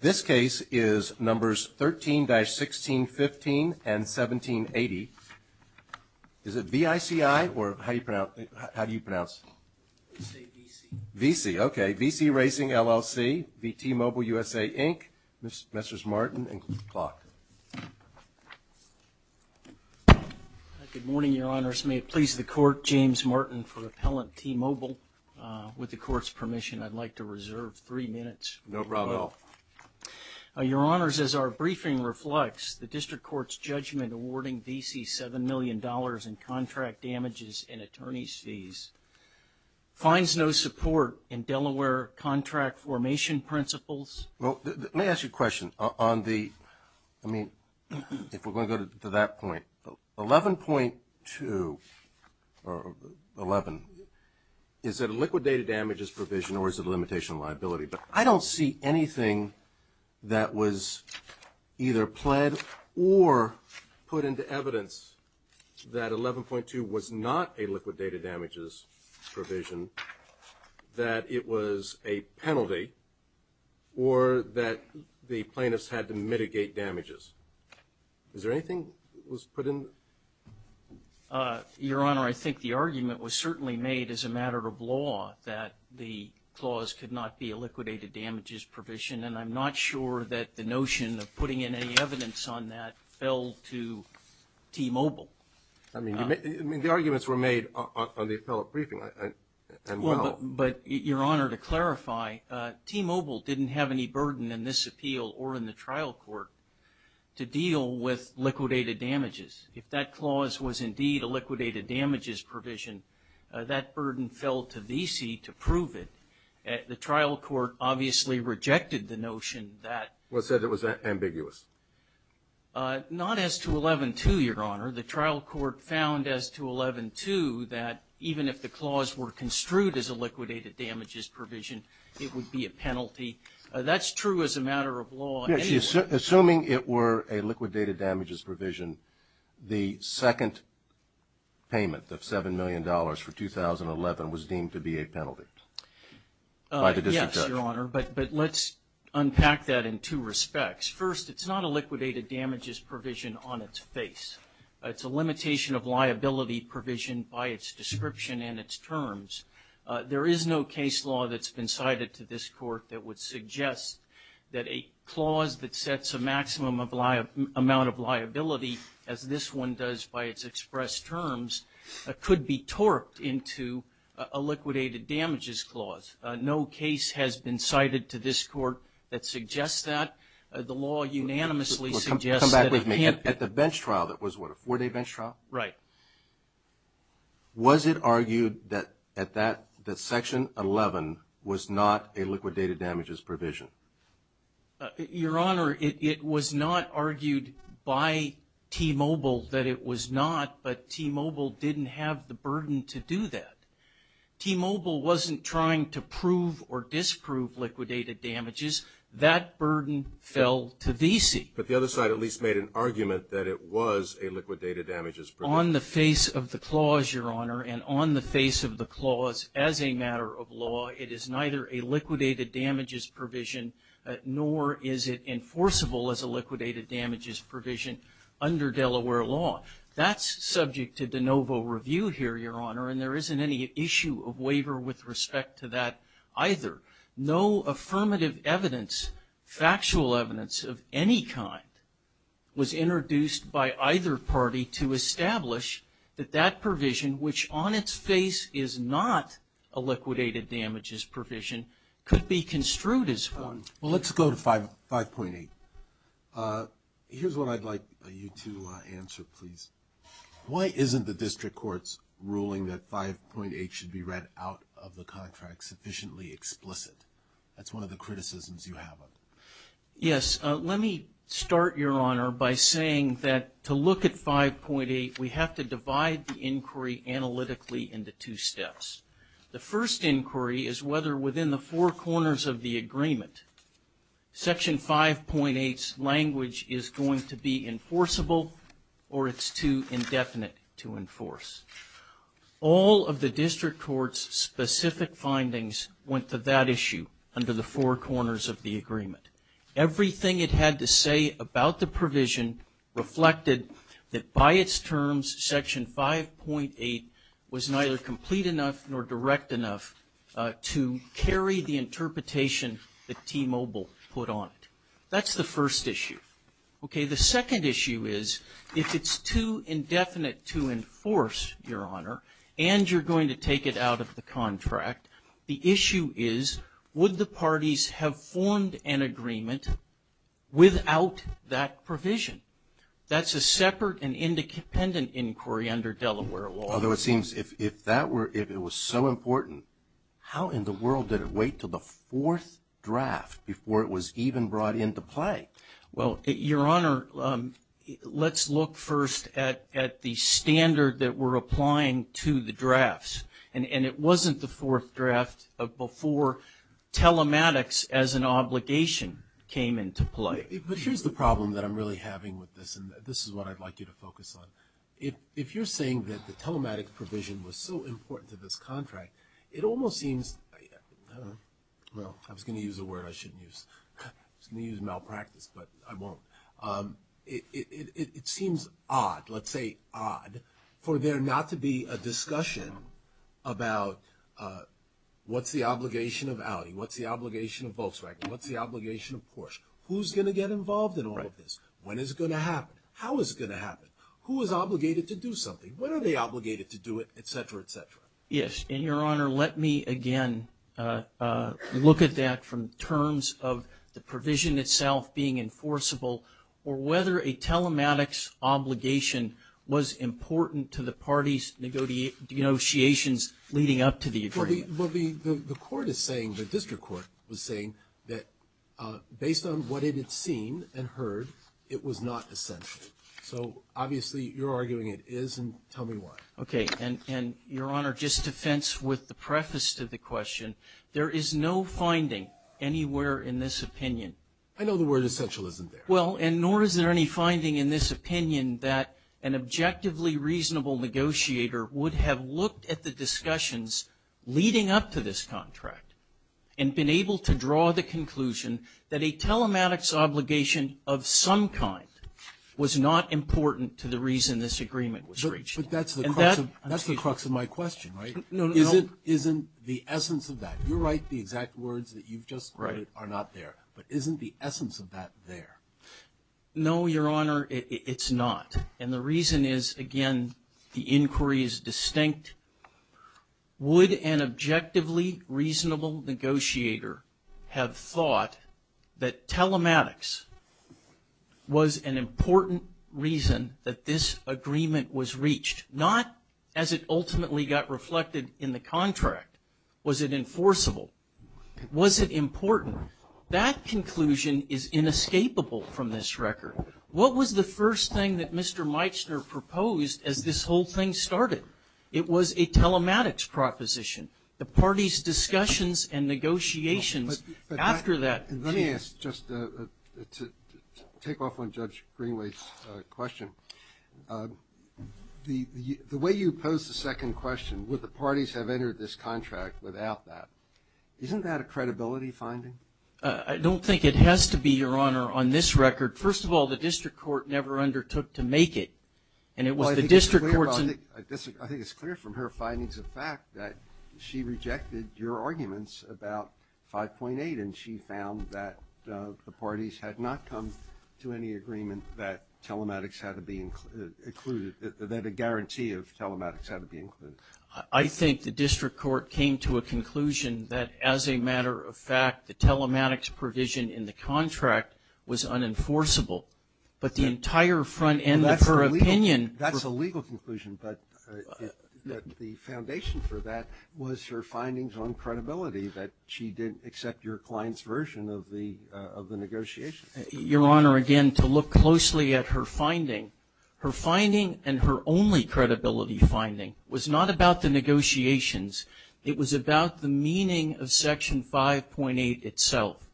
This case is numbers 13-1615 and 1780. Is it V-I-C-I or how do you pronounce it? I say V-C. V-C, okay. V-C Racing, LLC v. T-Mobile USA, Inc. Mrs. Martin and Clark. Good morning, your honors. May it please the court, James Martin for Appellant T-Mobile. With the court's permission, I'd like to reserve three minutes. No problem at all. Your honors, as our briefing reflects, the district court's judgment awarding V-C $7 million in contract damages and attorney's fees finds no support in Delaware contract formation principles. Well, let me ask you a question. On the, I mean, if we're going to go to that point, 11.2 or 11, is it a liquidated damages provision or is it a limitation of liability? But I don't see anything that was either pled or put into evidence that 11.2 was not a liquidated damages provision, that it was a penalty or that the plaintiffs had to mitigate damages. Is there anything that was put in? Your honor, I think the argument was certainly made as a matter of law that the clause could not be a liquidated damages provision, and I'm not sure that the notion of putting in any evidence on that fell to T-Mobile. I mean, the arguments were made on the appellate briefing. Well, but your honor, to clarify, T-Mobile didn't have any burden in this appeal or in the trial court to deal with liquidated damages. If that clause was indeed a liquidated damages provision, that burden fell to V-C to prove it. The trial court obviously rejected the notion that. Well, it said it was ambiguous. Not as to 11.2, your honor. The trial court found as to 11.2 that even if the clause were construed as a liquidated damages provision, it would be a penalty. That's true as a matter of law anyway. Assuming it were a liquidated damages provision, the second payment of $7 million for 2011 was deemed to be a penalty by the district judge. Yes, your honor, but let's unpack that in two respects. First, it's not a liquidated damages provision on its face. It's a limitation of liability provision by its description and its terms. There is no case law that's been cited to this court that would suggest that a clause that sets a maximum amount of liability, as this one does by its expressed terms, could be torqued into a liquidated damages clause. No case has been cited to this court that suggests that. The law unanimously suggests that it can't. Well, come back with me. At the bench trial that was what, a four-day bench trial? Right. Was it argued that section 11 was not a liquidated damages provision? Your honor, it was not argued by T-Mobile that it was not, but T-Mobile didn't have the burden to do that. T-Mobile wasn't trying to prove or disprove liquidated damages. That burden fell to VC. But the other side at least made an argument that it was a liquidated damages provision. On the face of the clause, your honor, and on the face of the clause as a matter of law, it is neither a liquidated damages provision nor is it enforceable as a liquidated damages provision under Delaware law. That's subject to de novo review here, your honor, and there isn't any issue of waiver with respect to that either. No affirmative evidence, factual evidence of any kind was introduced by either party to establish that that provision, which on its face is not a liquidated damages provision, could be construed as one. Well, let's go to 5.8. Here's what I'd like you to answer, please. Why isn't the district court's ruling that 5.8 should be read out of the contract sufficiently explicit? That's one of the criticisms you have of it. Yes. Let me start, your honor, by saying that to look at 5.8, we have to divide the inquiry analytically into two steps. The first inquiry is whether within the four corners of the agreement, Section 5.8's language is going to be enforceable or it's too indefinite to enforce. All of the district court's specific findings went to that issue under the four corners of the agreement. Everything it had to say about the provision reflected that by its terms, Section 5.8 was neither complete enough nor direct enough to carry the interpretation that T-Mobile put on it. That's the first issue. Okay. The second issue is if it's too indefinite to enforce, your honor, and you're going to take it out of the contract, the issue is would the parties have formed an agreement without that provision? That's a separate and independent inquiry under Delaware law. Although it seems if that were, if it was so important, how in the world did it wait until the fourth draft before it was even brought into play? Well, your honor, let's look first at the standard that we're applying to the drafts. And it wasn't the fourth draft before telematics as an obligation came into play. But here's the problem that I'm really having with this, and this is what I'd like you to focus on. If you're saying that the telematic provision was so important to this contract, it almost seems, well, I was going to use a word I shouldn't use. I was going to use malpractice, but I won't. It seems odd, let's say odd, for there not to be a discussion about what's the obligation of Audi? What's the obligation of Volkswagen? What's the obligation of Porsche? Who's going to get involved in all of this? When is it going to happen? How is it going to happen? Who is obligated to do something? When are they obligated to do it, et cetera, et cetera? Yes, and your honor, let me again look at that from terms of the provision itself being enforceable or whether a telematics obligation was important to the parties' negotiations leading up to the agreement. Well, the court is saying, the district court was saying that based on what it had seen and heard, it was not essential. So obviously you're arguing it is, and tell me why. Okay, and your honor, just to fence with the preface to the question, there is no finding anywhere in this opinion. I know the word essential isn't there. Well, and nor is there any finding in this opinion that an objectively reasonable negotiator would have looked at the discussions leading up to this contract and been able to draw the conclusion that a telematics obligation of some kind was not important to the reason this agreement was reached. But that's the crux of my question, right? Isn't the essence of that? You write the exact words that you've just quoted are not there. But isn't the essence of that there? No, your honor, it's not. And the reason is, again, the inquiry is distinct. Would an objectively reasonable negotiator have thought that telematics was an important reason that this agreement was reached? Not as it ultimately got reflected in the contract. Was it enforceable? Was it important? That conclusion is inescapable from this record. What was the first thing that Mr. Meitner proposed as this whole thing started? It was a telematics proposition. The party's discussions and negotiations after that. Let me ask just to take off on Judge Greenway's question. The way you pose the second question, would the parties have entered this contract without that, isn't that a credibility finding? I don't think it has to be, your honor, on this record. First of all, the district court never undertook to make it. And it was the district court's. I think it's clear from her findings of fact that she rejected your arguments about 5.8 and she found that the parties had not come to any agreement that telematics had to be included, that a guarantee of telematics had to be included. I think the district court came to a conclusion that as a matter of fact, the telematics provision in the contract was unenforceable. But the entire front end of her opinion. That's a legal conclusion. But the foundation for that was her findings on credibility, that she didn't accept your client's version of the negotiations. Your honor, again, to look closely at her finding, her finding and her only credibility finding was not about the negotiations. It was about the meaning of Section 5.8 itself.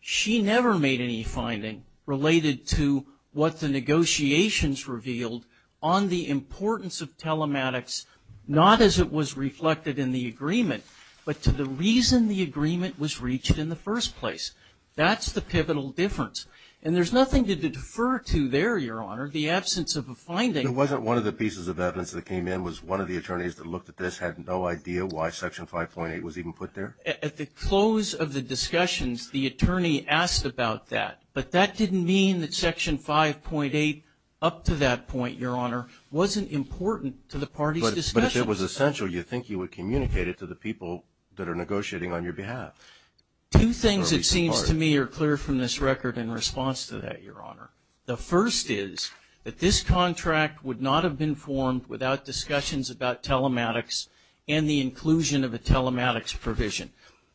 She never made any finding related to what the negotiations revealed on the importance of telematics, not as it was reflected in the agreement, but to the reason the agreement was reached in the first place. That's the pivotal difference. And there's nothing to defer to there, your honor, the absence of a finding. It wasn't one of the pieces of evidence that came in, was one of the attorneys that looked at this had no idea why Section 5.8 was even put there? At the close of the discussions, the attorney asked about that. But that didn't mean that Section 5.8 up to that point, your honor, wasn't important to the party's discussions. But if it was essential, you think you would communicate it to the people that are negotiating on your behalf. Two things, it seems to me, are clear from this record in response to that, your honor. The first is that this contract would not have been formed without discussions about telematics and the inclusion of a telematics provision.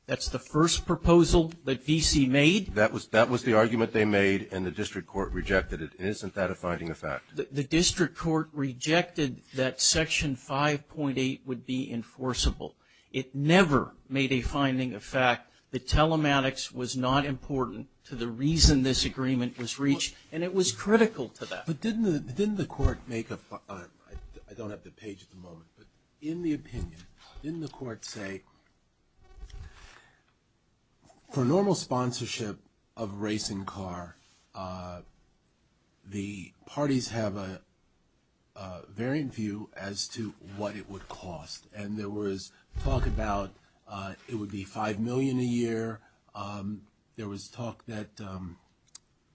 That's the first proposal that VC made. That was the argument they made, and the district court rejected it. Isn't that a finding of fact? The district court rejected that Section 5.8 would be enforceable. It never made a finding of fact that telematics was not important to the reason this agreement was reached. And it was critical to that. But didn't the court make a, I don't have the page at the moment, but in the opinion, didn't the court say for normal sponsorship of a racing car, the parties have a variant view as to what it would cost. And there was talk about it would be $5 million a year. There was talk that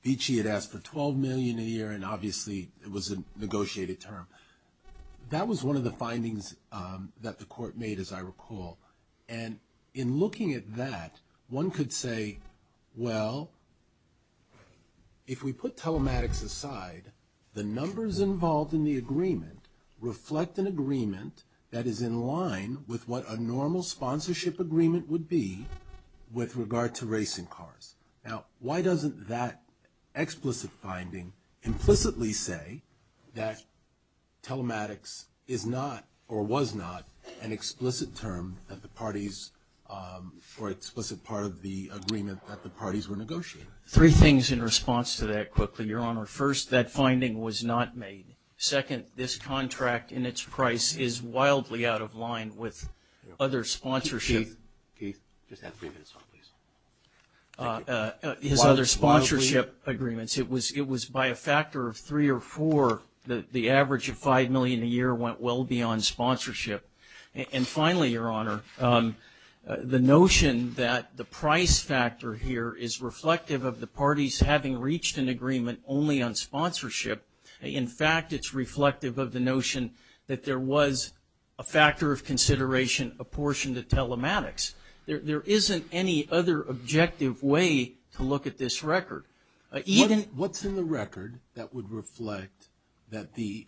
Vichy had asked for $12 million a year, and obviously it was a negotiated term. That was one of the findings that the court made, as I recall. And in looking at that, one could say, well, if we put telematics aside, the numbers involved in the agreement reflect an agreement that is in line with what a normal sponsorship agreement would be, with regard to racing cars. Now, why doesn't that explicit finding implicitly say that telematics is not or was not an explicit term that the parties or explicit part of the agreement that the parties were negotiating? Three things in response to that quickly, Your Honor. First, that finding was not made. Second, this contract and its price is wildly out of line with other sponsorship. Keith, just have three minutes on this. His other sponsorship agreements. It was by a factor of three or four that the average of $5 million a year went well beyond sponsorship. And finally, Your Honor, the notion that the price factor here is reflective of the parties having reached an agreement only on sponsorship. In fact, it's reflective of the notion that there was a factor of consideration apportioned to telematics. There isn't any other objective way to look at this record. What's in the record that would reflect that the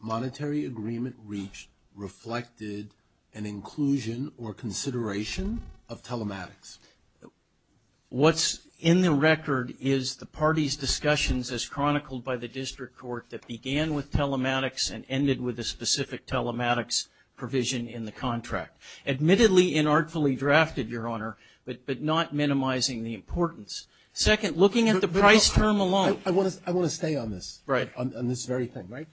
monetary agreement reached reflected an inclusion or consideration of telematics? What's in the record is the parties' discussions as chronicled by the district court that began with telematics and ended with a specific telematics provision in the contract. Admittedly, inartfully drafted, Your Honor, but not minimizing the importance. Second, looking at the price term alone. I want to stay on this. Right. On this very thing, right?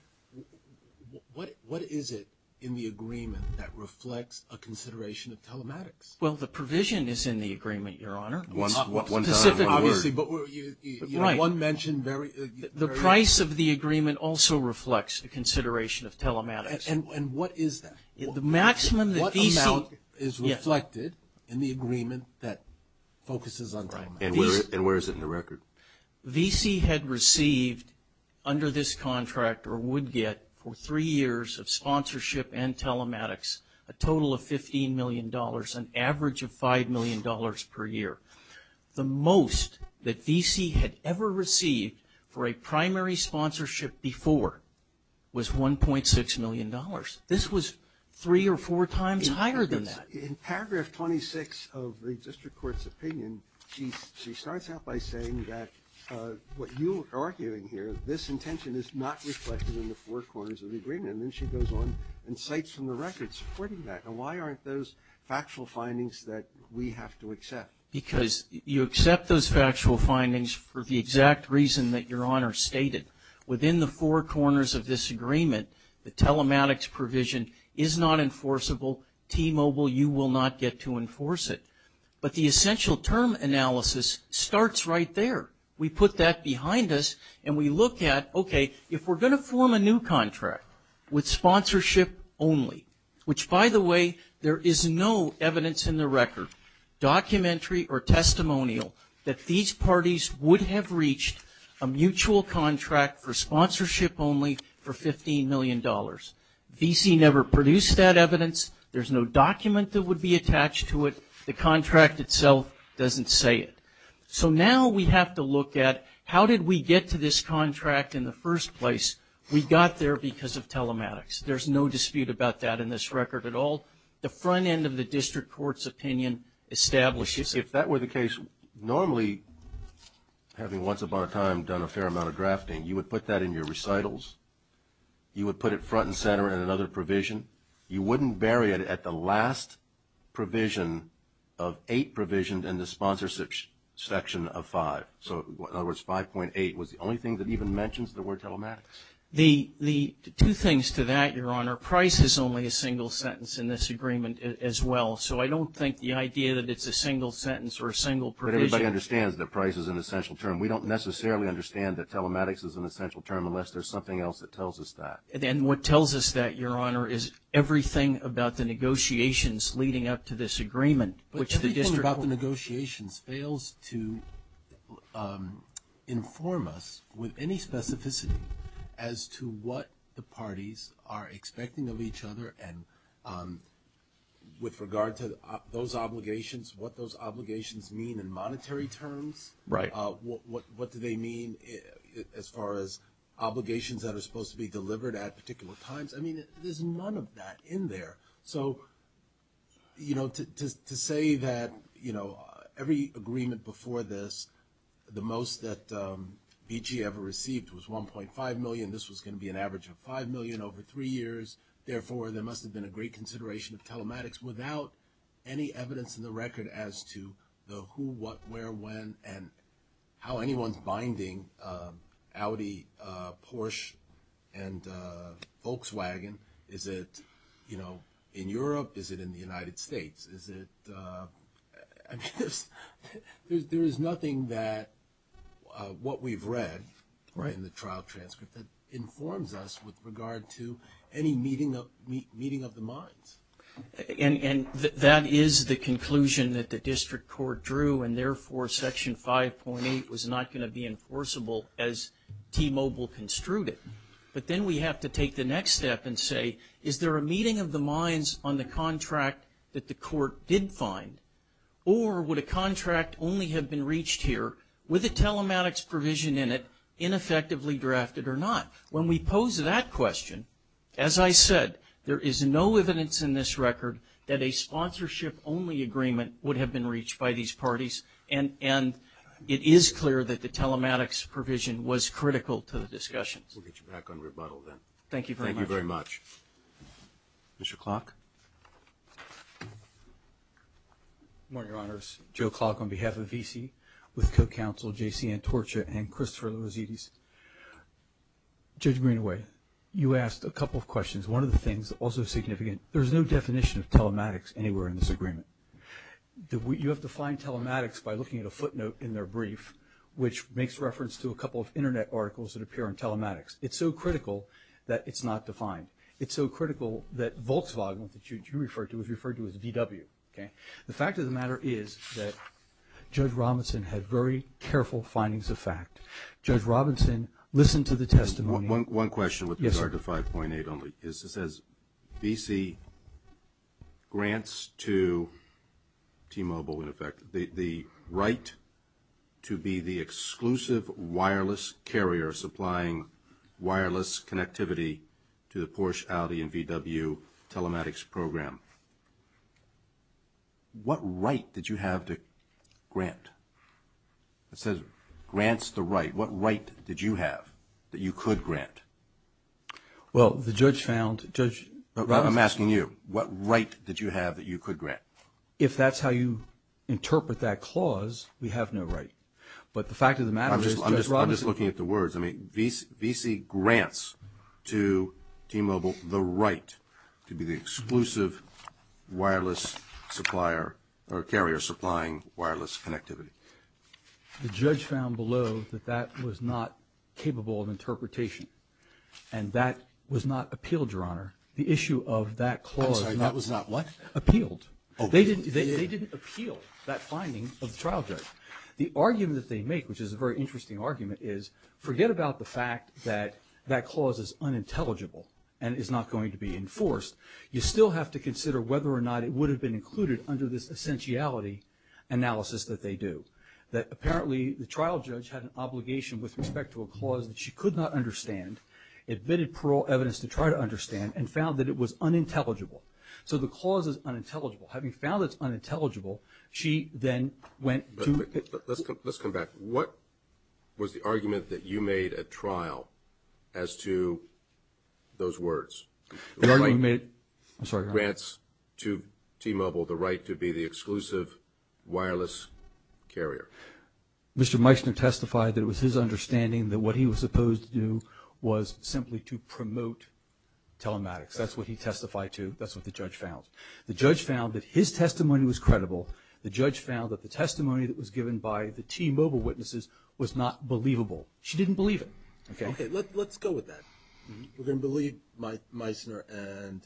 What is it in the agreement that reflects a consideration of telematics? Well, the provision is in the agreement, Your Honor. One time. One word. Obviously, but one mention. The price of the agreement also reflects a consideration of telematics. And what is that? The maximum that V.C. What amount is reflected in the agreement that focuses on telematics? And where is it in the record? V.C. had received under this contract or would get for three years of sponsorship and telematics a total of $15 million, an average of $5 million per year. The most that V.C. had ever received for a primary sponsorship before was $1.6 million. This was three or four times higher than that. In paragraph 26 of the district court's opinion, she starts out by saying that what you are arguing here, this intention is not reflected in the four corners of the agreement. And then she goes on and cites from the record supporting that. And why aren't those factual findings that we have to accept? Because you accept those factual findings for the exact reason that Your Honor stated. Within the four corners of this agreement, the telematics provision is not enforceable. T-Mobile, you will not get to enforce it. But the essential term analysis starts right there. We put that behind us and we look at, okay, if we're going to form a new contract with sponsorship only, which, by the way, there is no evidence in the record, documentary or testimonial, that these parties would have reached a mutual contract for sponsorship only for $15 million. V.C. never produced that evidence. There's no document that would be attached to it. The contract itself doesn't say it. So now we have to look at how did we get to this contract in the first place? We got there because of telematics. There's no dispute about that in this record at all. The front end of the district court's opinion establishes it. If that were the case, normally, having once upon a time done a fair amount of drafting, you would put that in your recitals. You would put it front and center in another provision. You wouldn't bury it at the last provision of eight provisions in the sponsorship section of five. So, in other words, 5.8 was the only thing that even mentions the word telematics. The two things to that, Your Honor, price is only a single sentence in this agreement as well. So I don't think the idea that it's a single sentence or a single provision. But everybody understands that price is an essential term. We don't necessarily understand that telematics is an essential term unless there's something else that tells us that. And what tells us that, Your Honor, is everything about the negotiations leading up to this agreement. Everything about the negotiations fails to inform us with any specificity as to what the parties are expecting of each other. And with regard to those obligations, what those obligations mean in monetary terms. Right. What do they mean as far as obligations that are supposed to be delivered at particular times? I mean, there's none of that in there. So, you know, to say that, you know, every agreement before this, the most that BG ever received was 1.5 million. This was going to be an average of 5 million over three years. Therefore, there must have been a great consideration of telematics without any evidence in the record as to the who, what, where, when, and how anyone's binding Audi, Porsche, and Volkswagen. Is it, you know, in Europe? Is it in the United States? Is it, I mean, there is nothing that what we've read in the trial transcript that informs us with regard to any meeting of the minds. And that is the conclusion that the district court drew. And therefore, Section 5.8 was not going to be enforceable as T-Mobile construed it. But then we have to take the next step and say, is there a meeting of the minds on the contract that the court did find? Or would a contract only have been reached here with a telematics provision in it ineffectively drafted or not? When we pose that question, as I said, there is no evidence in this record that a sponsorship-only agreement would have been reached by these parties. And it is clear that the telematics provision was critical to the discussions. We'll get you back on rebuttal then. Thank you very much. Thank you very much. Mr. Klock. Good morning, Your Honors. Joe Klock on behalf of VC with co-counsel J.C. Antorcha and Christopher Lourizidis. Judge Greenaway, you asked a couple of questions. One of the things that's also significant, there's no definition of telematics anywhere in this agreement. You have to find telematics by looking at a footnote in their brief, which makes reference to a couple of Internet articles that appear in telematics. It's so critical that it's not defined. It's so critical that Volkswagen, which you referred to, is referred to as VW. The fact of the matter is that Judge Robinson had very careful findings of fact. Judge Robinson listened to the testimony. One question with regard to 5.8 only. It says VC grants to T-Mobile, in effect, the right to be the exclusive wireless carrier supplying wireless connectivity to the Porsche, Audi, and VW telematics program. What right did you have to grant? It says grants the right. What right did you have that you could grant? Well, the judge found, Judge Robinson. I'm asking you, what right did you have that you could grant? If that's how you interpret that clause, we have no right. But the fact of the matter is, Judge Robinson. I'm just looking at the words. I mean, VC grants to T-Mobile the right to be the exclusive wireless carrier supplying wireless connectivity. The judge found below that that was not capable of interpretation. And that was not appealed, Your Honor. The issue of that clause. I'm sorry, that was not what? Appealed. They didn't appeal that finding of the trial judge. The argument that they make, which is a very interesting argument, is forget about the fact that that clause is unintelligible and is not going to be enforced. You still have to consider whether or not it would have been included under this essentiality analysis that they do. That apparently the trial judge had an obligation with respect to a clause that she could not understand, admitted parole evidence to try to understand, and found that it was unintelligible. So the clause is unintelligible. Having found it's unintelligible, she then went to. Let's come back. What was the argument that you made at trial as to those words? I'm sorry, Your Honor. Grants to T-Mobile the right to be the exclusive wireless carrier. Mr. Meissner testified that it was his understanding that what he was supposed to do was simply to promote telematics. That's what he testified to. That's what the judge found. The judge found that his testimony was credible. The judge found that the testimony that was given by the T-Mobile witnesses was not believable. She didn't believe it. Okay. Let's go with that. We're going to believe Meissner, and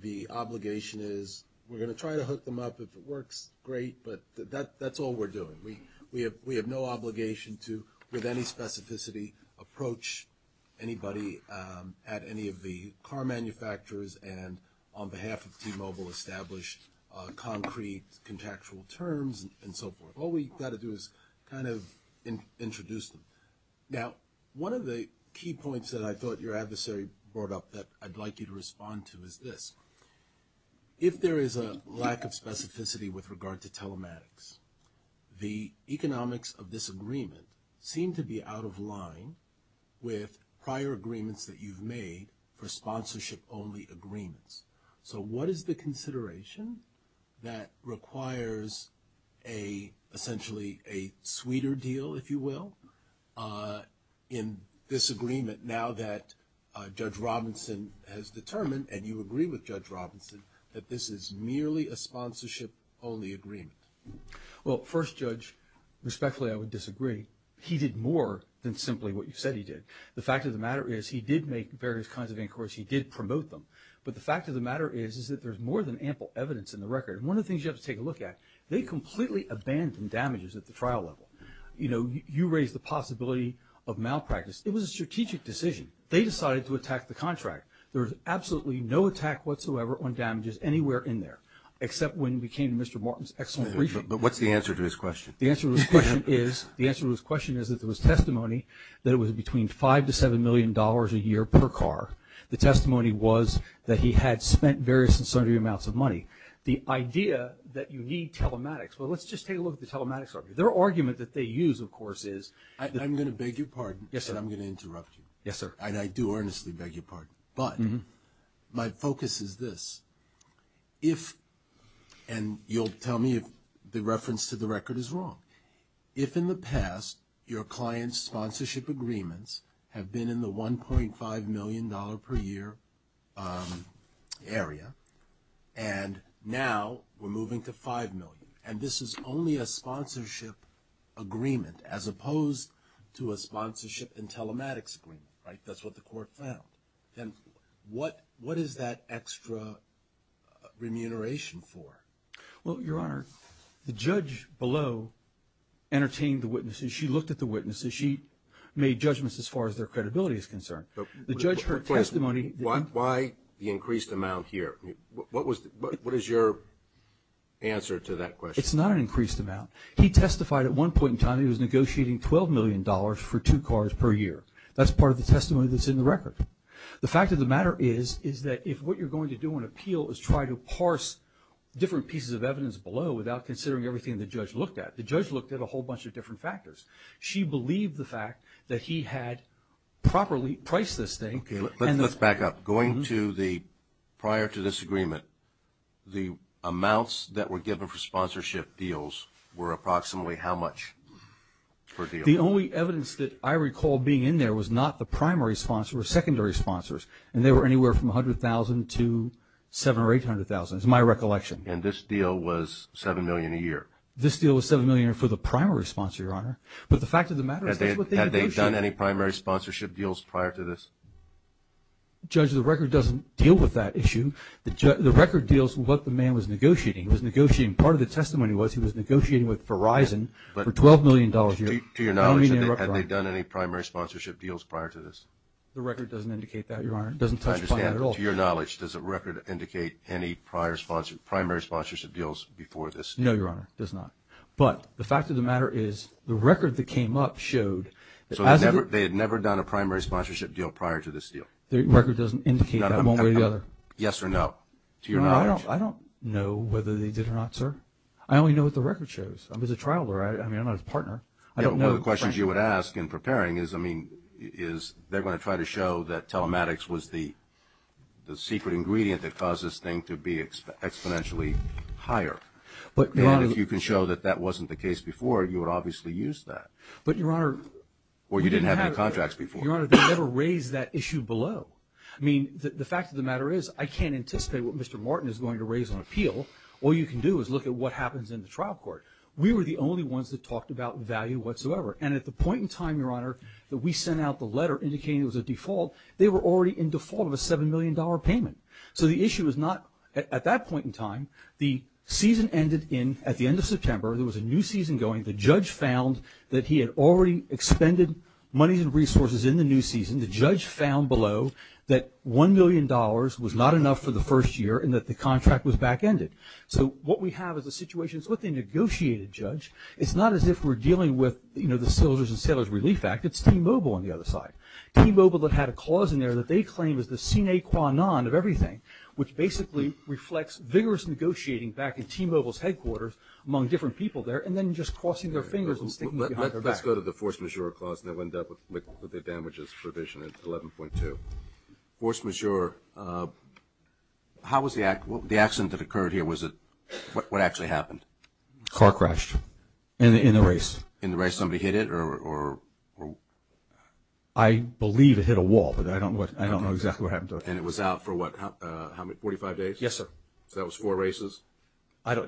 the obligation is we're going to try to hook them up. If it works, great. But that's all we're doing. We have no obligation to, with any specificity, approach anybody at any of the car manufacturers and on behalf of T-Mobile establish concrete, contextual terms and so forth. All we've got to do is kind of introduce them. Now, one of the key points that I thought your adversary brought up that I'd like you to respond to is this. If there is a lack of specificity with regard to telematics, the economics of this agreement seem to be out of line with prior agreements that you've made for sponsorship-only agreements. So what is the consideration that requires essentially a sweeter deal, if you will, in this agreement now that Judge Robinson has determined, and you agree with Judge Robinson, that this is merely a sponsorship-only agreement? Well, first, Judge, respectfully, I would disagree. He did more than simply what you said he did. The fact of the matter is he did make various kinds of inquiries. He did promote them. But the fact of the matter is that there's more than ample evidence in the record. One of the things you have to take a look at, they completely abandoned damages at the trial level. You know, you raised the possibility of malpractice. It was a strategic decision. They decided to attack the contract. There was absolutely no attack whatsoever on damages anywhere in there, except when we came to Mr. Martin's excellent briefing. But what's the answer to his question? The answer to his question is that there was testimony that it was between $5 million to $7 million a year per car. The testimony was that he had spent various and sundry amounts of money. The idea that you need telematics. Well, let's just take a look at the telematics argument. Their argument that they use, of course, is that they're going to use telematics. I'm going to beg your pardon. Yes, sir. I'm going to interrupt you. Yes, sir. And I do earnestly beg your pardon. But my focus is this. If, and you'll tell me if the reference to the record is wrong, if in the past your client's sponsorship agreements have been in the $1.5 million per year area and now we're moving to $5 million, and this is only a sponsorship agreement as opposed to a sponsorship and telematics agreement, right? That's what the court found. Then what is that extra remuneration for? Well, Your Honor, the judge below entertained the witnesses. She looked at the witnesses. She made judgments as far as their credibility is concerned. The judge heard testimony. Why the increased amount here? What is your answer to that question? It's not an increased amount. He testified at one point in time he was negotiating $12 million for two cars per year. That's part of the testimony that's in the record. The fact of the matter is, is that if what you're going to do on appeal is try to parse different pieces of evidence below without considering everything the judge looked at. The judge looked at a whole bunch of different factors. She believed the fact that he had properly priced this thing. Okay, let's back up. Going to the prior to this agreement, the amounts that were given for sponsorship deals were approximately how much per deal? The only evidence that I recall being in there was not the primary sponsor or secondary sponsors, and they were anywhere from $100,000 to $700,000 or $800,000 is my recollection. And this deal was $7 million a year? This deal was $7 million for the primary sponsor, Your Honor. But the fact of the matter is, that's what they negotiated. Had they done any primary sponsorship deals prior to this? Judge, the record doesn't deal with that issue. The record deals with what the man was negotiating. Part of the testimony was he was negotiating with Verizon for $12 million a year. To your knowledge, had they done any primary sponsorship deals prior to this? The record doesn't indicate that, Your Honor. It doesn't touch upon that at all. I understand. To your knowledge, does the record indicate any primary sponsorship deals before this? No, Your Honor, it does not. But the fact of the matter is, the record that came up showed that as of the… So they had never done a primary sponsorship deal prior to this deal? The record doesn't indicate that one way or the other. Yes or no? To your knowledge? I don't know whether they did or not, sir. I only know what the record shows. I was a trial lawyer. I mean, I'm not his partner. Yeah, but one of the questions you would ask in preparing is, I mean, is they're going to try to show that telematics was the secret ingredient that caused this thing to be exponentially higher. And if you can show that that wasn't the case before, you would obviously use that. But, Your Honor… Or you didn't have any contracts before. Your Honor, they never raised that issue below. I mean, the fact of the matter is I can't anticipate what Mr. Martin is going to raise on appeal. All you can do is look at what happens in the trial court. We were the only ones that talked about value whatsoever. And at the point in time, Your Honor, that we sent out the letter indicating it was a default, they were already in default of a $7 million payment. So the issue is not at that point in time. The season ended at the end of September. There was a new season going. The judge found that he had already expended money and resources in the new season. The judge found below that $1 million was not enough for the first year and that the contract was back-ended. So what we have is a situation, it's what they negotiated, Judge. It's not as if we're dealing with, you know, the Soldiers and Sailors Relief Act. It's T-Mobile on the other side. T-Mobile had a clause in there that they claim is the sine qua non of everything, which basically reflects vigorous negotiating back at T-Mobile's headquarters among different people there and then just crossing their fingers and sticking behind their back. Let's go to the force majeure clause and then we'll end up with the damages provision at 11.2. Force majeure. How was the accident that occurred here? What actually happened? Car crashed in the race. In the race? Somebody hit it? I believe it hit a wall, but I don't know exactly what happened to it. And it was out for what, 45 days? Yes, sir. So that was four races?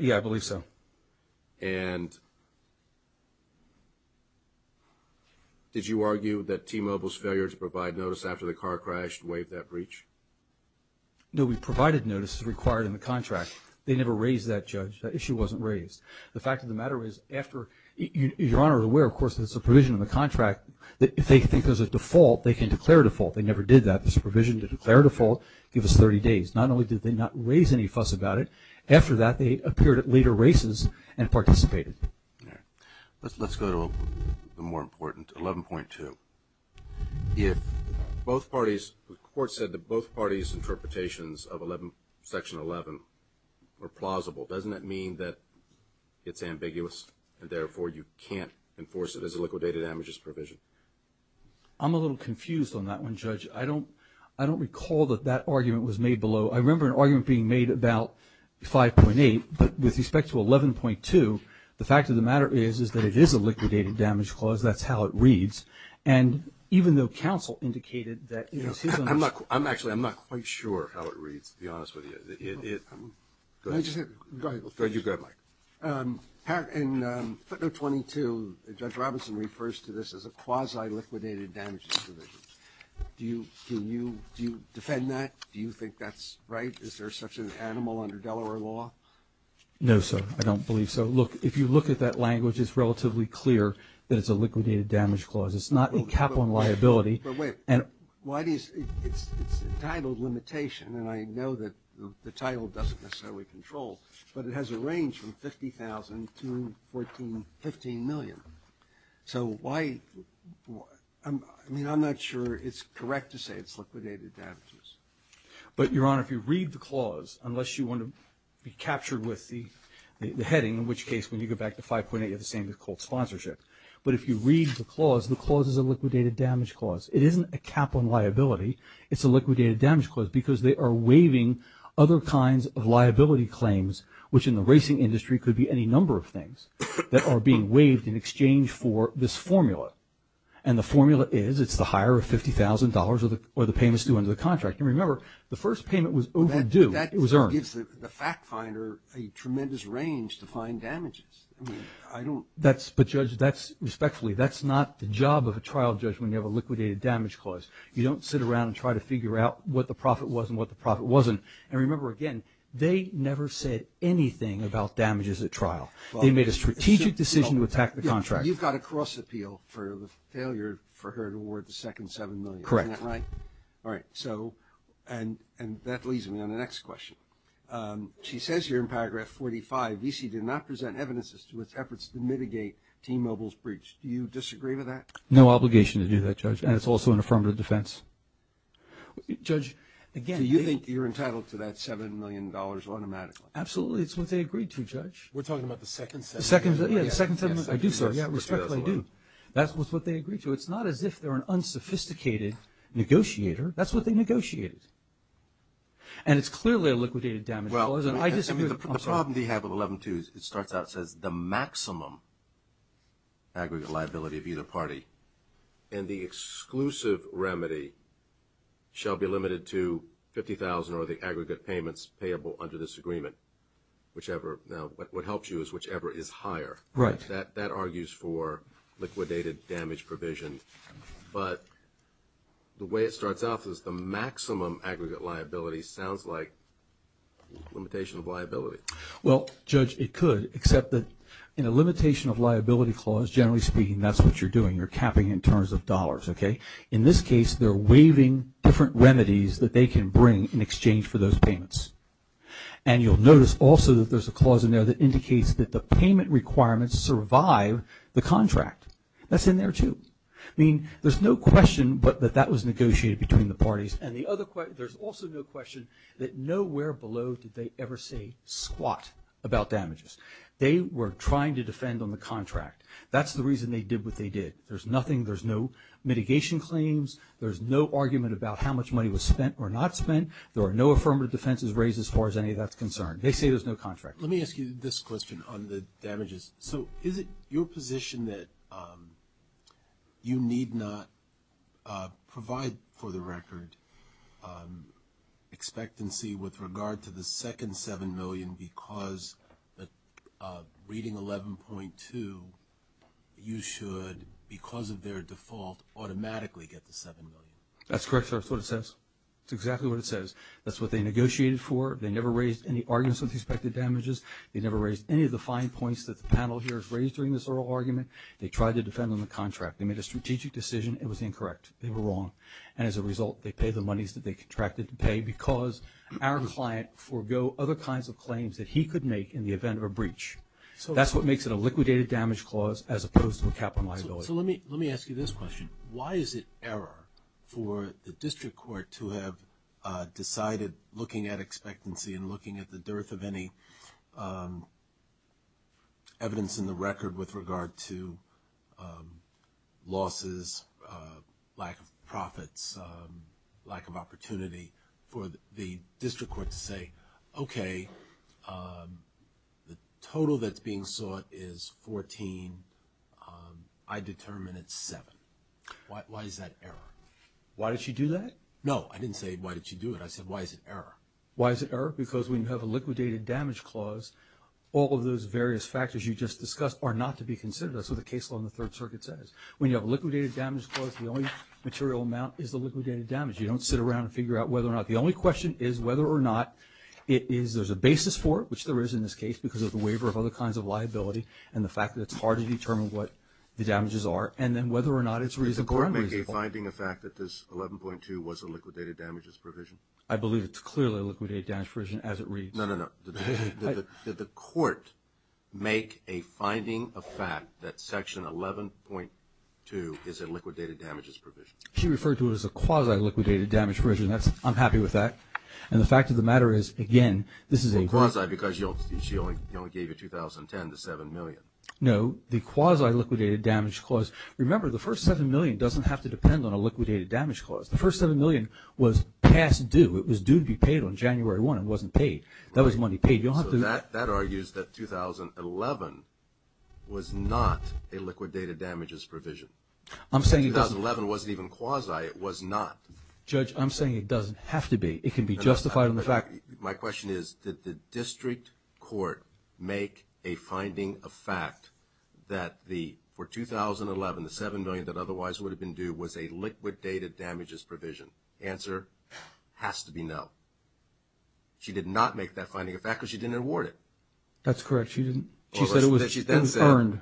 Yeah, I believe so. And did you argue that T-Mobile's failure to provide notice after the car crashed waived that breach? No, we provided notice as required in the contract. They never raised that, Judge. That issue wasn't raised. The fact of the matter is after you're aware, of course, there's a provision in the contract that if they think there's a default, they can declare default. They never did that. There's a provision to declare default, give us 30 days. Not only did they not raise any fuss about it, after that they appeared at later races and participated. All right. Let's go to the more important, 11.2. If both parties, the court said that both parties' interpretations of Section 11 were plausible, doesn't that mean that it's ambiguous and therefore you can't enforce it as a liquidated damages provision? I'm a little confused on that one, Judge. I don't recall that that argument was made below. I remember an argument being made about 5.8, but with respect to 11.2, the fact of the matter is that it is a liquidated damage clause. That's how it reads. And even though counsel indicated that it is his understanding. Actually, I'm not quite sure how it reads, to be honest with you. Go ahead. Go ahead, Mike. In Article 22, Judge Robinson refers to this as a quasi-liquidated damages provision. Do you defend that? Do you think that's right? Is there such an animal under Delaware law? No, sir. I don't believe so. Look, if you look at that language, it's relatively clear that it's a liquidated damage clause. It's not a cap on liability. But wait. It's entitled limitation, and I know that the title doesn't necessarily control, but it has a range from $50,000 to $15 million. So why? I mean, I'm not sure it's correct to say it's liquidated damages. But, Your Honor, if you read the clause, unless you want to be captured with the heading, in which case when you go back to 5.8 you have the same as cold sponsorship. But if you read the clause, the clause is a liquidated damage clause. It isn't a cap on liability. It's a liquidated damage clause because they are waiving other kinds of liability claims, which in the racing industry could be any number of things, that are being waived in exchange for this formula. And the formula is it's the higher of $50,000 or the payments due under the contract. And remember, the first payment was overdue. That gives the fact finder a tremendous range to find damages. But, Judge, respectfully, that's not the job of a trial judge when you have a liquidated damage clause. You don't sit around and try to figure out what the profit was and what the profit wasn't. And remember, again, they never said anything about damages at trial. They made a strategic decision to attack the contract. You've got a cross appeal for the failure for her to award the second $7 million. Correct. Isn't that right? All right. So, and that leads me on the next question. She says here in paragraph 45, VC did not present evidence as to its efforts to mitigate T-Mobile's breach. Do you disagree with that? No obligation to do that, Judge. And it's also an affirmative defense. Judge, again, Do you think you're entitled to that $7 million automatically? Absolutely. It's what they agreed to, Judge. We're talking about the second $7 million. Yeah, the second $7 million. I do, sir. Yeah, respectfully, I do. That's what they agreed to. It's not as if they're an unsophisticated negotiator. That's what they negotiated. And it's clearly a liquidated damage clause. And I disagree with it. The problem they have with 11-2 is it starts out, says, the maximum aggregate liability of either party. And the exclusive remedy shall be limited to $50,000 or the aggregate payments payable under this agreement. Whichever. Now, what helps you is whichever is higher. Right. That argues for liquidated damage provision. But the way it starts off is the maximum aggregate liability sounds like limitation of liability. Well, Judge, it could, except that in a limitation of liability clause, generally speaking, that's what you're doing. You're capping in terms of dollars. Okay? In this case, they're waiving different remedies that they can bring in exchange for those payments. And you'll notice also that there's a clause in there that indicates that the payment requirements survive the contract. That's in there, too. I mean, there's no question that that was negotiated between the parties. And there's also no question that nowhere below did they ever say squat about damages. They were trying to defend on the contract. That's the reason they did what they did. There's nothing, there's no mitigation claims, there's no argument about how much money was spent or not spent, there are no affirmative defenses raised as far as any of that's concerned. They say there's no contract. Let me ask you this question on the damages. So is it your position that you need not provide, for the record, expectancy with regard to the second $7 million because reading 11.2, you should, because of their default, automatically get the $7 million? That's correct, sir. That's what it says. That's exactly what it says. That's what they negotiated for. They never raised any arguments with respect to damages. They never raised any of the fine points that the panel here has raised during this oral argument. They tried to defend on the contract. They made a strategic decision. It was incorrect. They were wrong. And as a result, they paid the monies that they contracted to pay because our client forgo other kinds of claims that he could make in the event of a breach. That's what makes it a liquidated damage clause as opposed to a capital liability. So let me ask you this question. Why is it error for the district court to have decided looking at expectancy and looking at the dearth of any evidence in the record with regard to losses, lack of profits, lack of opportunity for the district court to say, okay, the total that's being sought is 14. I determine it's seven. Why is that error? Why did she do that? No, I didn't say why did she do it? I said why is it error? Why is it error? Because when you have a liquidated damage clause, all of those various factors you just discussed are not to be considered. That's what the case law in the third circuit says. When you have a liquidated damage clause, the only material amount is the liquidated damage. You don't sit around and figure out whether or not. The only question is whether or not it is, there's a basis for it, which there is in this case because of the waiver of other kinds of liability and the fact that it's hard to determine what the damages are and then whether or not it's reasonable or unreasonable. Is the court making a finding of fact that this 11.2 was a liquidated damages provision? I believe it's clearly a liquidated damage provision as it reads. No, no, no. Did the court make a finding of fact that Section 11.2 is a liquidated damages provision? She referred to it as a quasi-liquidated damage provision. I'm happy with that. And the fact of the matter is, again, this is a... Well, quasi because she only gave you 2010, the $7 million. No, the quasi-liquidated damage clause. Remember, the first $7 million doesn't have to depend on a liquidated damage clause. The first $7 million was past due. It was due to be paid on January 1. It wasn't paid. That was money paid. You don't have to... So that argues that 2011 was not a liquidated damages provision. I'm saying it doesn't... 2011 wasn't even quasi. It was not. Judge, I'm saying it doesn't have to be. It can be justified on the fact... My question is, did the district court make a finding of fact that for 2011, the $7 million that otherwise would have been due was a liquidated damages provision? Answer, has to be no. She did not make that finding of fact because she didn't award it. That's correct. She said it was earned.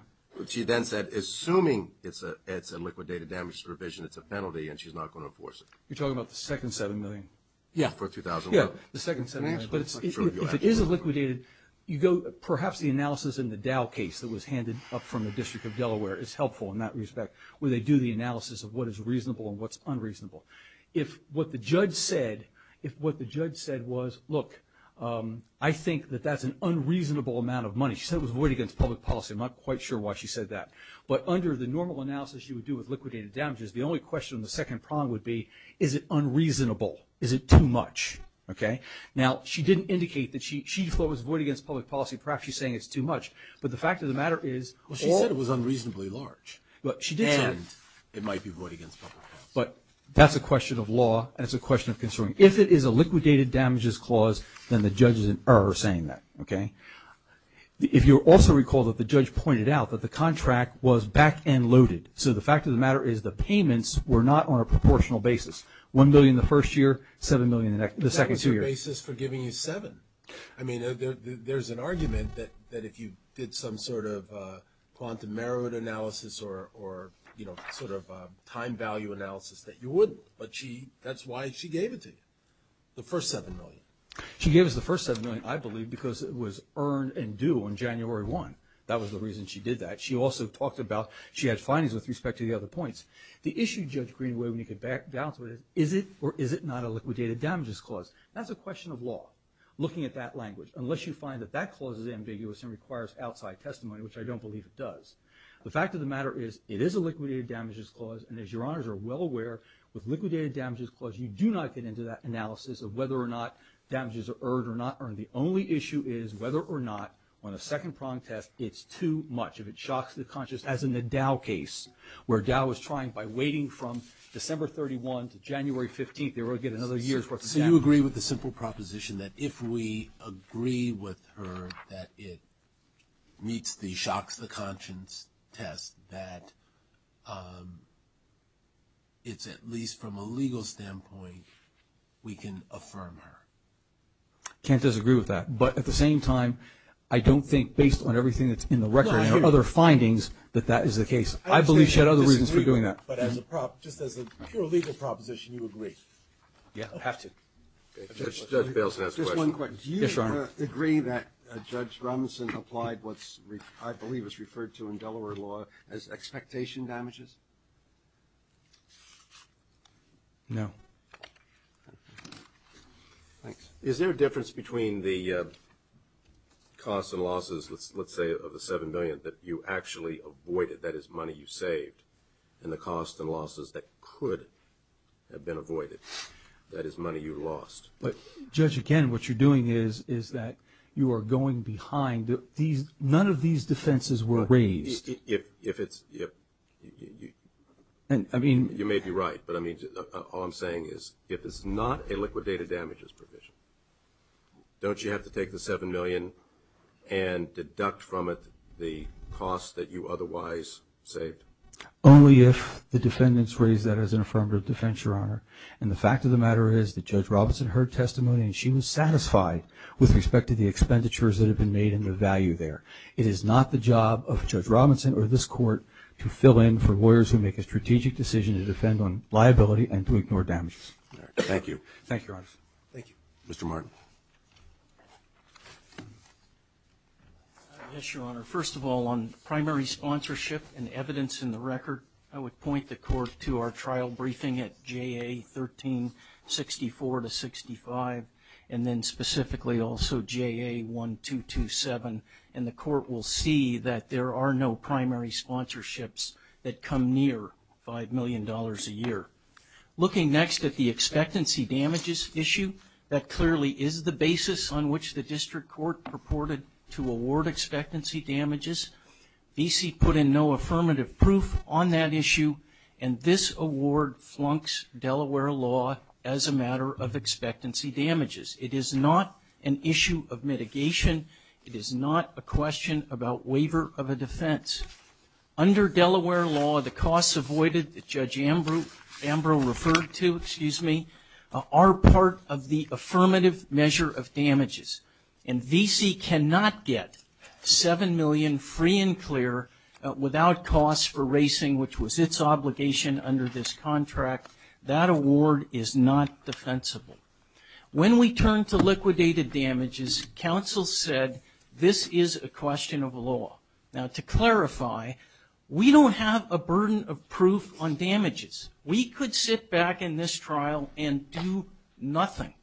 She then said, assuming it's a liquidated damages provision, it's a penalty and she's not going to enforce it. You're talking about the second $7 million. Yeah. For 2011. Yeah, the second $7 million. But if it is a liquidated, you go... Perhaps the analysis in the Dow case that was handed up from the District of Delaware is helpful in that respect, where they do the analysis of what is reasonable and what's unreasonable. If what the judge said was, look, I think that that's an unreasonable amount of money. She said it was void against public policy. I'm not quite sure why she said that. But under the normal analysis you would do with liquidated damages, the only question on the second prong would be, is it unreasonable? Is it too much? Okay? Now, she didn't indicate that she thought it was void against public policy. Perhaps she's saying it's too much. But the fact of the matter is... It's unreasonably large. But she did say... And it might be void against public policy. But that's a question of law, and it's a question of considering. If it is a liquidated damages clause, then the judge is saying that. Okay? If you'll also recall that the judge pointed out that the contract was back and loaded. So the fact of the matter is the payments were not on a proportional basis. $1 million the first year, $7 million the second two years. That was your basis for giving you $7 million. I mean, there's an argument that if you did some sort of quantum merit analysis or sort of time value analysis that you wouldn't. But that's why she gave it to you, the first $7 million. She gave us the first $7 million, I believe, because it was earned and due on January 1. That was the reason she did that. She also talked about... She had findings with respect to the other points. The issue, Judge Greenway, when you get back down to it, is it or is it not a liquidated damages clause? That's a question of law. Looking at that language. Unless you find that that clause is ambiguous and requires outside testimony, which I don't believe it does. The fact of the matter is it is a liquidated damages clause, and as your honors are well aware, with liquidated damages clause, you do not get into that analysis of whether or not damages are earned or not earned. The only issue is whether or not, on a second prong test, it's too much. If it shocks the conscience, as in the Dow case, where Dow was trying by waiting from December 31 to January 15, they were going to get another year's worth of damages. So you agree with the simple proposition that if we agree with her that it meets the shocks the conscience test, that it's at least from a legal standpoint we can affirm her. I can't disagree with that. But at the same time, I don't think, based on everything that's in the record and other findings, that that is the case. I believe she had other reasons for doing that. But just as a pure legal proposition, you agree. Yes. I have to. Judge Baleson has a question. Just one question. Yes, Your Honor. Do you agree that Judge Robinson applied what I believe is referred to in Delaware law as expectation damages? No. Thanks. Is there a difference between the costs and losses, let's say, of the $7 million that you actually avoided, that is money you saved, and the costs and losses that could have been avoided, that is money you lost? Judge, again, what you're doing is that you are going behind. None of these defenses were raised. You may be right, but all I'm saying is if it's not a liquidated damages provision, don't you have to take the $7 million and deduct from it the cost that you otherwise saved? Only if the defendants raise that as an affirmative defense, Your Honor. And the fact of the matter is that Judge Robinson heard testimony and she was satisfied with respect to the expenditures that have been made and the value there. It is not the job of Judge Robinson or this Court to fill in for lawyers who make a strategic decision to defend on liability and to ignore damages. Thank you. Thank you, Your Honor. Thank you. Mr. Martin. Yes, Your Honor. First of all, on primary sponsorship and evidence in the record, I would point the Court to our trial briefing at JA 1364-65 and then specifically also JA 1227, and the Court will see that there are no primary sponsorships that come near $5 million a year. Looking next at the expectancy damages issue, that clearly is the basis on which the District Court purported to award expectancy damages. VC put in no affirmative proof on that issue, and this award flunks Delaware law as a matter of expectancy damages. It is not an issue of mitigation. It is not a question about waiver of a defense. Under Delaware law, the costs avoided that Judge Ambrose referred to are part of the affirmative measure of damages, and VC cannot get $7 million free and clear without costs for racing, which was its obligation under this contract. That award is not defensible. When we turn to liquidated damages, counsel said this is a question of law. Now, to clarify, we don't have a burden of proof on damages. We could sit back in this trial and do nothing.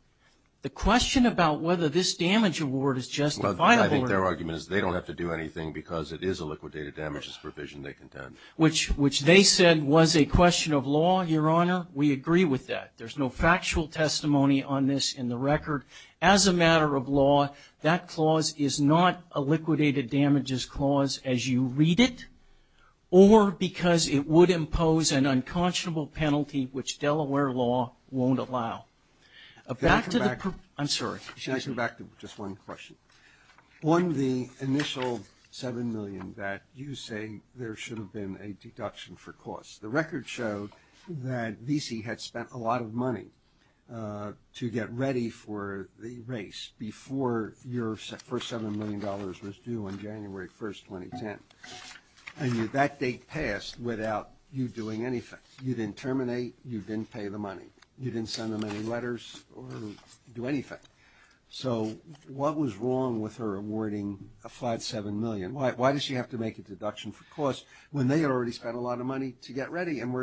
The question about whether this damage award is just a final award. I think their argument is they don't have to do anything because it is a liquidated damages provision they contend. Which they said was a question of law, Your Honor. We agree with that. There's no factual testimony on this in the record. As a matter of law, that clause is not a liquidated damages clause as you read it, or because it would impose an unconscionable penalty which Delaware law won't allow. Back to the- I'm sorry. Can I go back to just one question? On the initial $7 million that you say there should have been a deduction for costs, the record showed that VC had spent a lot of money to get ready for the race before your first $7 million was due on January 1, 2010. And that date passed without you doing anything. You didn't terminate. You didn't pay the money. You didn't send them any letters or do anything. So what was wrong with her awarding a flat $7 million? Why does she have to make a deduction for costs when they had already spent a lot of money to get ready and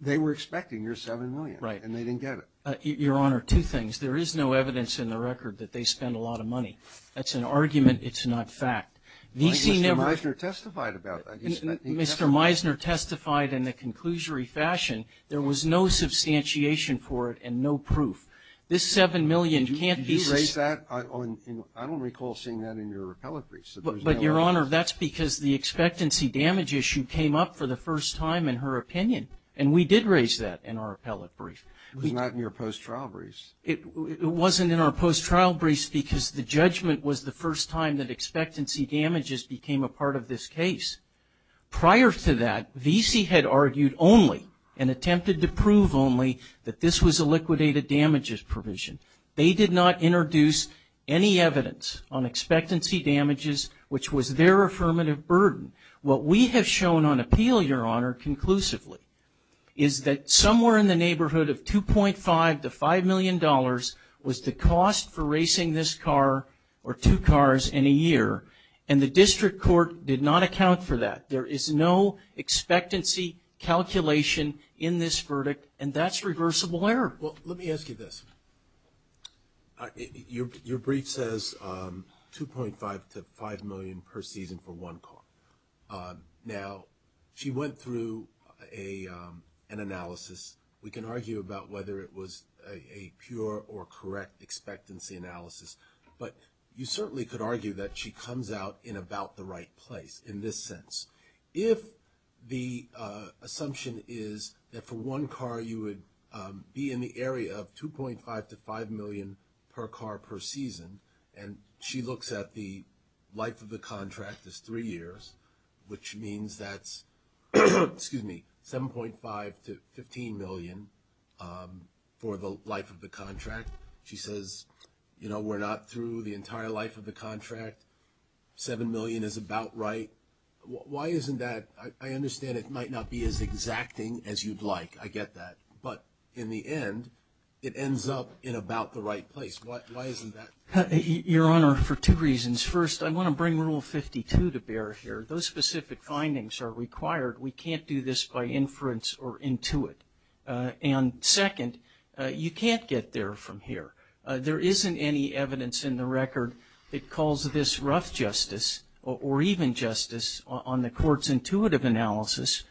they were expecting your $7 million. Right. And they didn't get it. Your Honor, two things. There is no evidence in the record that they spent a lot of money. That's an argument. It's not fact. Mr. Meisner testified about that. Mr. Meisner testified in a conclusory fashion. There was no substantiation for it and no proof. This $7 million can't be- Did you raise that? I don't recall seeing that in your appellate brief. But, Your Honor, that's because the expectancy damage issue came up for the first time in her opinion, and we did raise that in our appellate brief. It was not in your post-trial brief. It wasn't in our post-trial brief because the judgment was the first time that expectancy damages became a part of this case. Prior to that, VC had argued only and attempted to prove only that this was a liquidated damages provision. They did not introduce any evidence on expectancy damages, which was their affirmative burden. What we have shown on appeal, Your Honor, conclusively, is that somewhere in the neighborhood of $2.5 to $5 million was the cost for racing this car or two cars in a year, and the district court did not account for that. There is no expectancy calculation in this verdict, and that's reversible error. Well, let me ask you this. Your brief says $2.5 to $5 million per season for one car. Now, she went through an analysis. We can argue about whether it was a pure or correct expectancy analysis, but you certainly could argue that she comes out in about the right place in this sense. If the assumption is that for one car you would be in the area of $2.5 to $5 million per car per season and she looks at the life of the contract as three years, which means that's $7.5 to $15 million for the life of the contract, she says, you know, we're not through the entire life of the contract, $7 million is about right. Why isn't that? I understand it might not be as exacting as you'd like. I get that. But in the end, it ends up in about the right place. Why isn't that? Your Honor, for two reasons. First, I want to bring Rule 52 to bear here. Those specific findings are required. We can't do this by inference or intuit. And second, you can't get there from here. There isn't any evidence in the record that calls this rough justice or even justice on the Court's intuitive analysis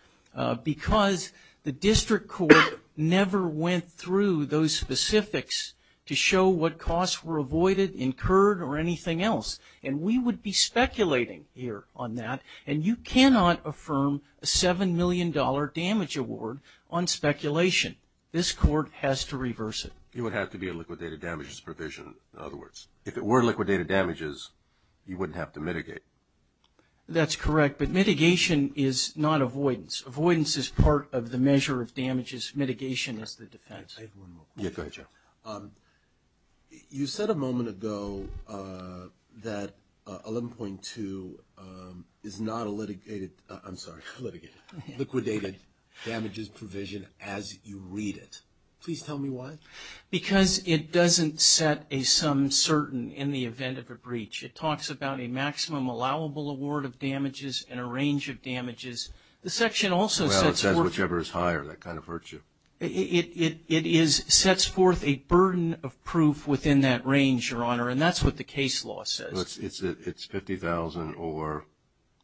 because the District Court never went through those specifics to show what costs were avoided, incurred, or anything else. And we would be speculating here on that. And you cannot affirm a $7 million damage award on speculation. This Court has to reverse it. It would have to be a liquidated damages provision, in other words. If it were liquidated damages, you wouldn't have to mitigate. That's correct, but mitigation is not avoidance. Avoidance is part of the measure of damages. Mitigation is the defense. I have one more question. Yeah, go ahead, Joe. You said a moment ago that 11.2 is not a liquidated damages provision as you read it. Please tell me why. Because it doesn't set a sum certain in the event of a breach. It talks about a maximum allowable award of damages and a range of damages. The section also sets forth. Well, it says whichever is higher. That kind of hurts you. It sets forth a burden of proof within that range, Your Honor, and that's what the case law says. It's $50,000 or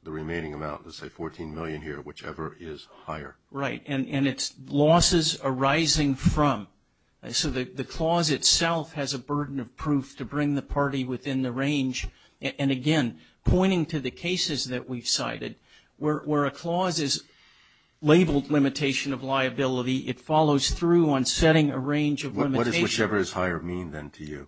the remaining amount, let's say $14 million here, whichever is higher. Right. And it's losses arising from. So the clause itself has a burden of proof to bring the party within the range. And, again, pointing to the cases that we've cited, where a clause is labeled limitation of liability, it follows through on setting a range of limitations. What does whichever is higher mean then to you?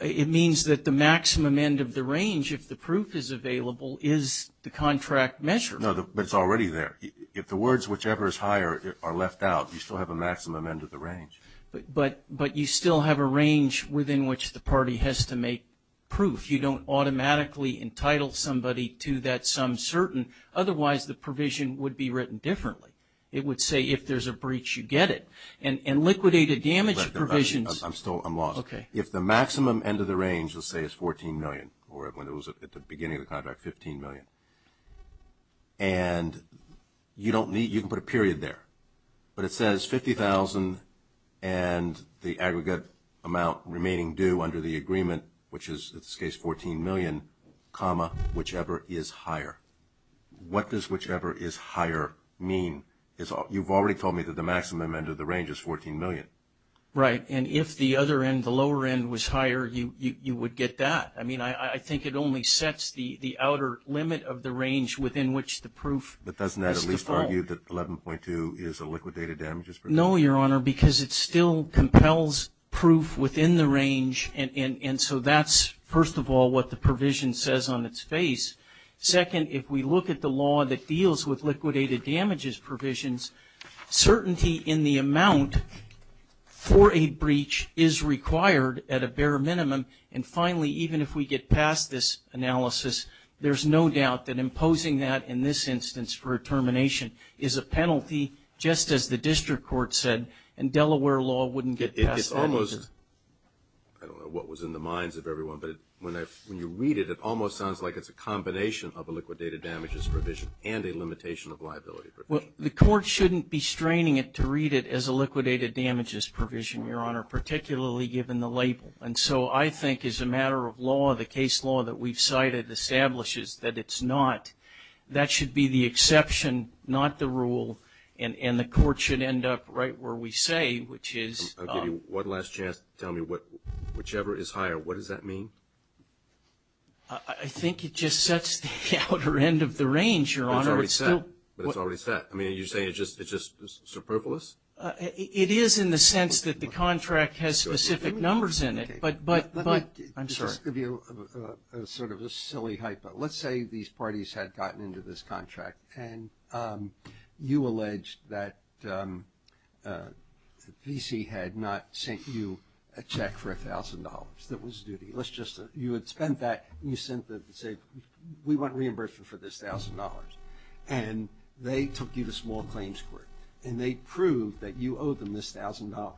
It means that the maximum end of the range, if the proof is available, is the contract measure. No, but it's already there. If the words whichever is higher are left out, you still have a maximum end of the range. But you still have a range within which the party has to make proof. If you don't automatically entitle somebody to that sum certain, otherwise the provision would be written differently. It would say if there's a breach, you get it. And liquidated damage provisions. I'm lost. Okay. If the maximum end of the range, let's say it's $14 million, or when it was at the beginning of the contract, $15 million, and you don't need, you can put a period there. But it says $50,000 and the aggregate amount remaining due under the agreement, which is, in this case, $14 million, comma, whichever is higher. What does whichever is higher mean? You've already told me that the maximum end of the range is $14 million. Right. And if the other end, the lower end, was higher, you would get that. I mean, I think it only sets the outer limit of the range within which the proof is to fall. But doesn't that at least tell you that 11.2 is a liquidated damages provision? No, Your Honor, because it still compels proof within the range and so that's, first of all, what the provision says on its face. Second, if we look at the law that deals with liquidated damages provisions, certainty in the amount for a breach is required at a bare minimum. And finally, even if we get past this analysis, there's no doubt that imposing that in this instance for a termination is a penalty, just as the district court said, and Delaware law wouldn't get past that. It's almost, I don't know what was in the minds of everyone, but when you read it, it almost sounds like it's a combination of a liquidated damages provision and a limitation of liability provision. Well, the court shouldn't be straining it to read it as a liquidated damages provision, Your Honor, particularly given the label. And so I think as a matter of law, the case law that we've cited establishes that it's not. That should be the exception, not the rule, and the court should end up right where we say, which is I'll give you one last chance to tell me whichever is higher. What does that mean? I think it just sets the outer end of the range, Your Honor. It's already set. But it's already set. I mean, are you saying it's just superfluous? It is in the sense that the contract has specific numbers in it, but Let me just give you sort of a silly hypo. Let's say these parties had gotten into this contract and you alleged that the VC had not sent you a check for $1,000. That was duty. You had spent that, and you sent them to say, we want reimbursement for this $1,000. And they took you to small claims court, and they proved that you owed them this $1,000.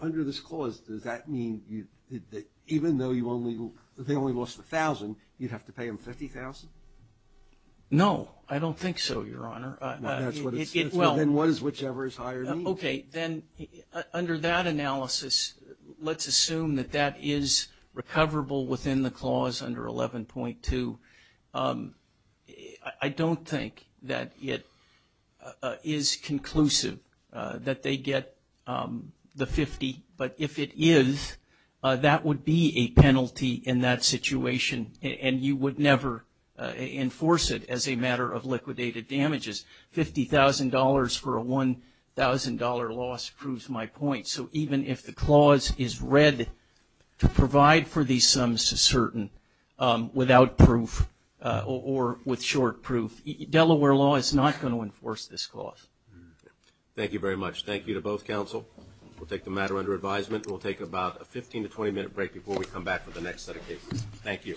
Under this clause, does that mean that even though they only lost $1,000, you'd have to pay them $50,000? No, I don't think so, Your Honor. Well, then what is whichever is higher? Okay. Then under that analysis, let's assume that that is recoverable within the clause under 11.2. I don't think that it is conclusive that they get the 50, but if it is, that would be a penalty in that situation, and you would never enforce it as a matter of liquidated damages. $50,000 for a $1,000 loss proves my point. So even if the clause is read to provide for these sums to certain without proof or with short proof, Delaware law is not going to enforce this clause. Thank you very much. Thank you to both counsel. We'll take the matter under advisement. We'll take about a 15 to 20-minute break before we come back with the next set of cases. Thank you.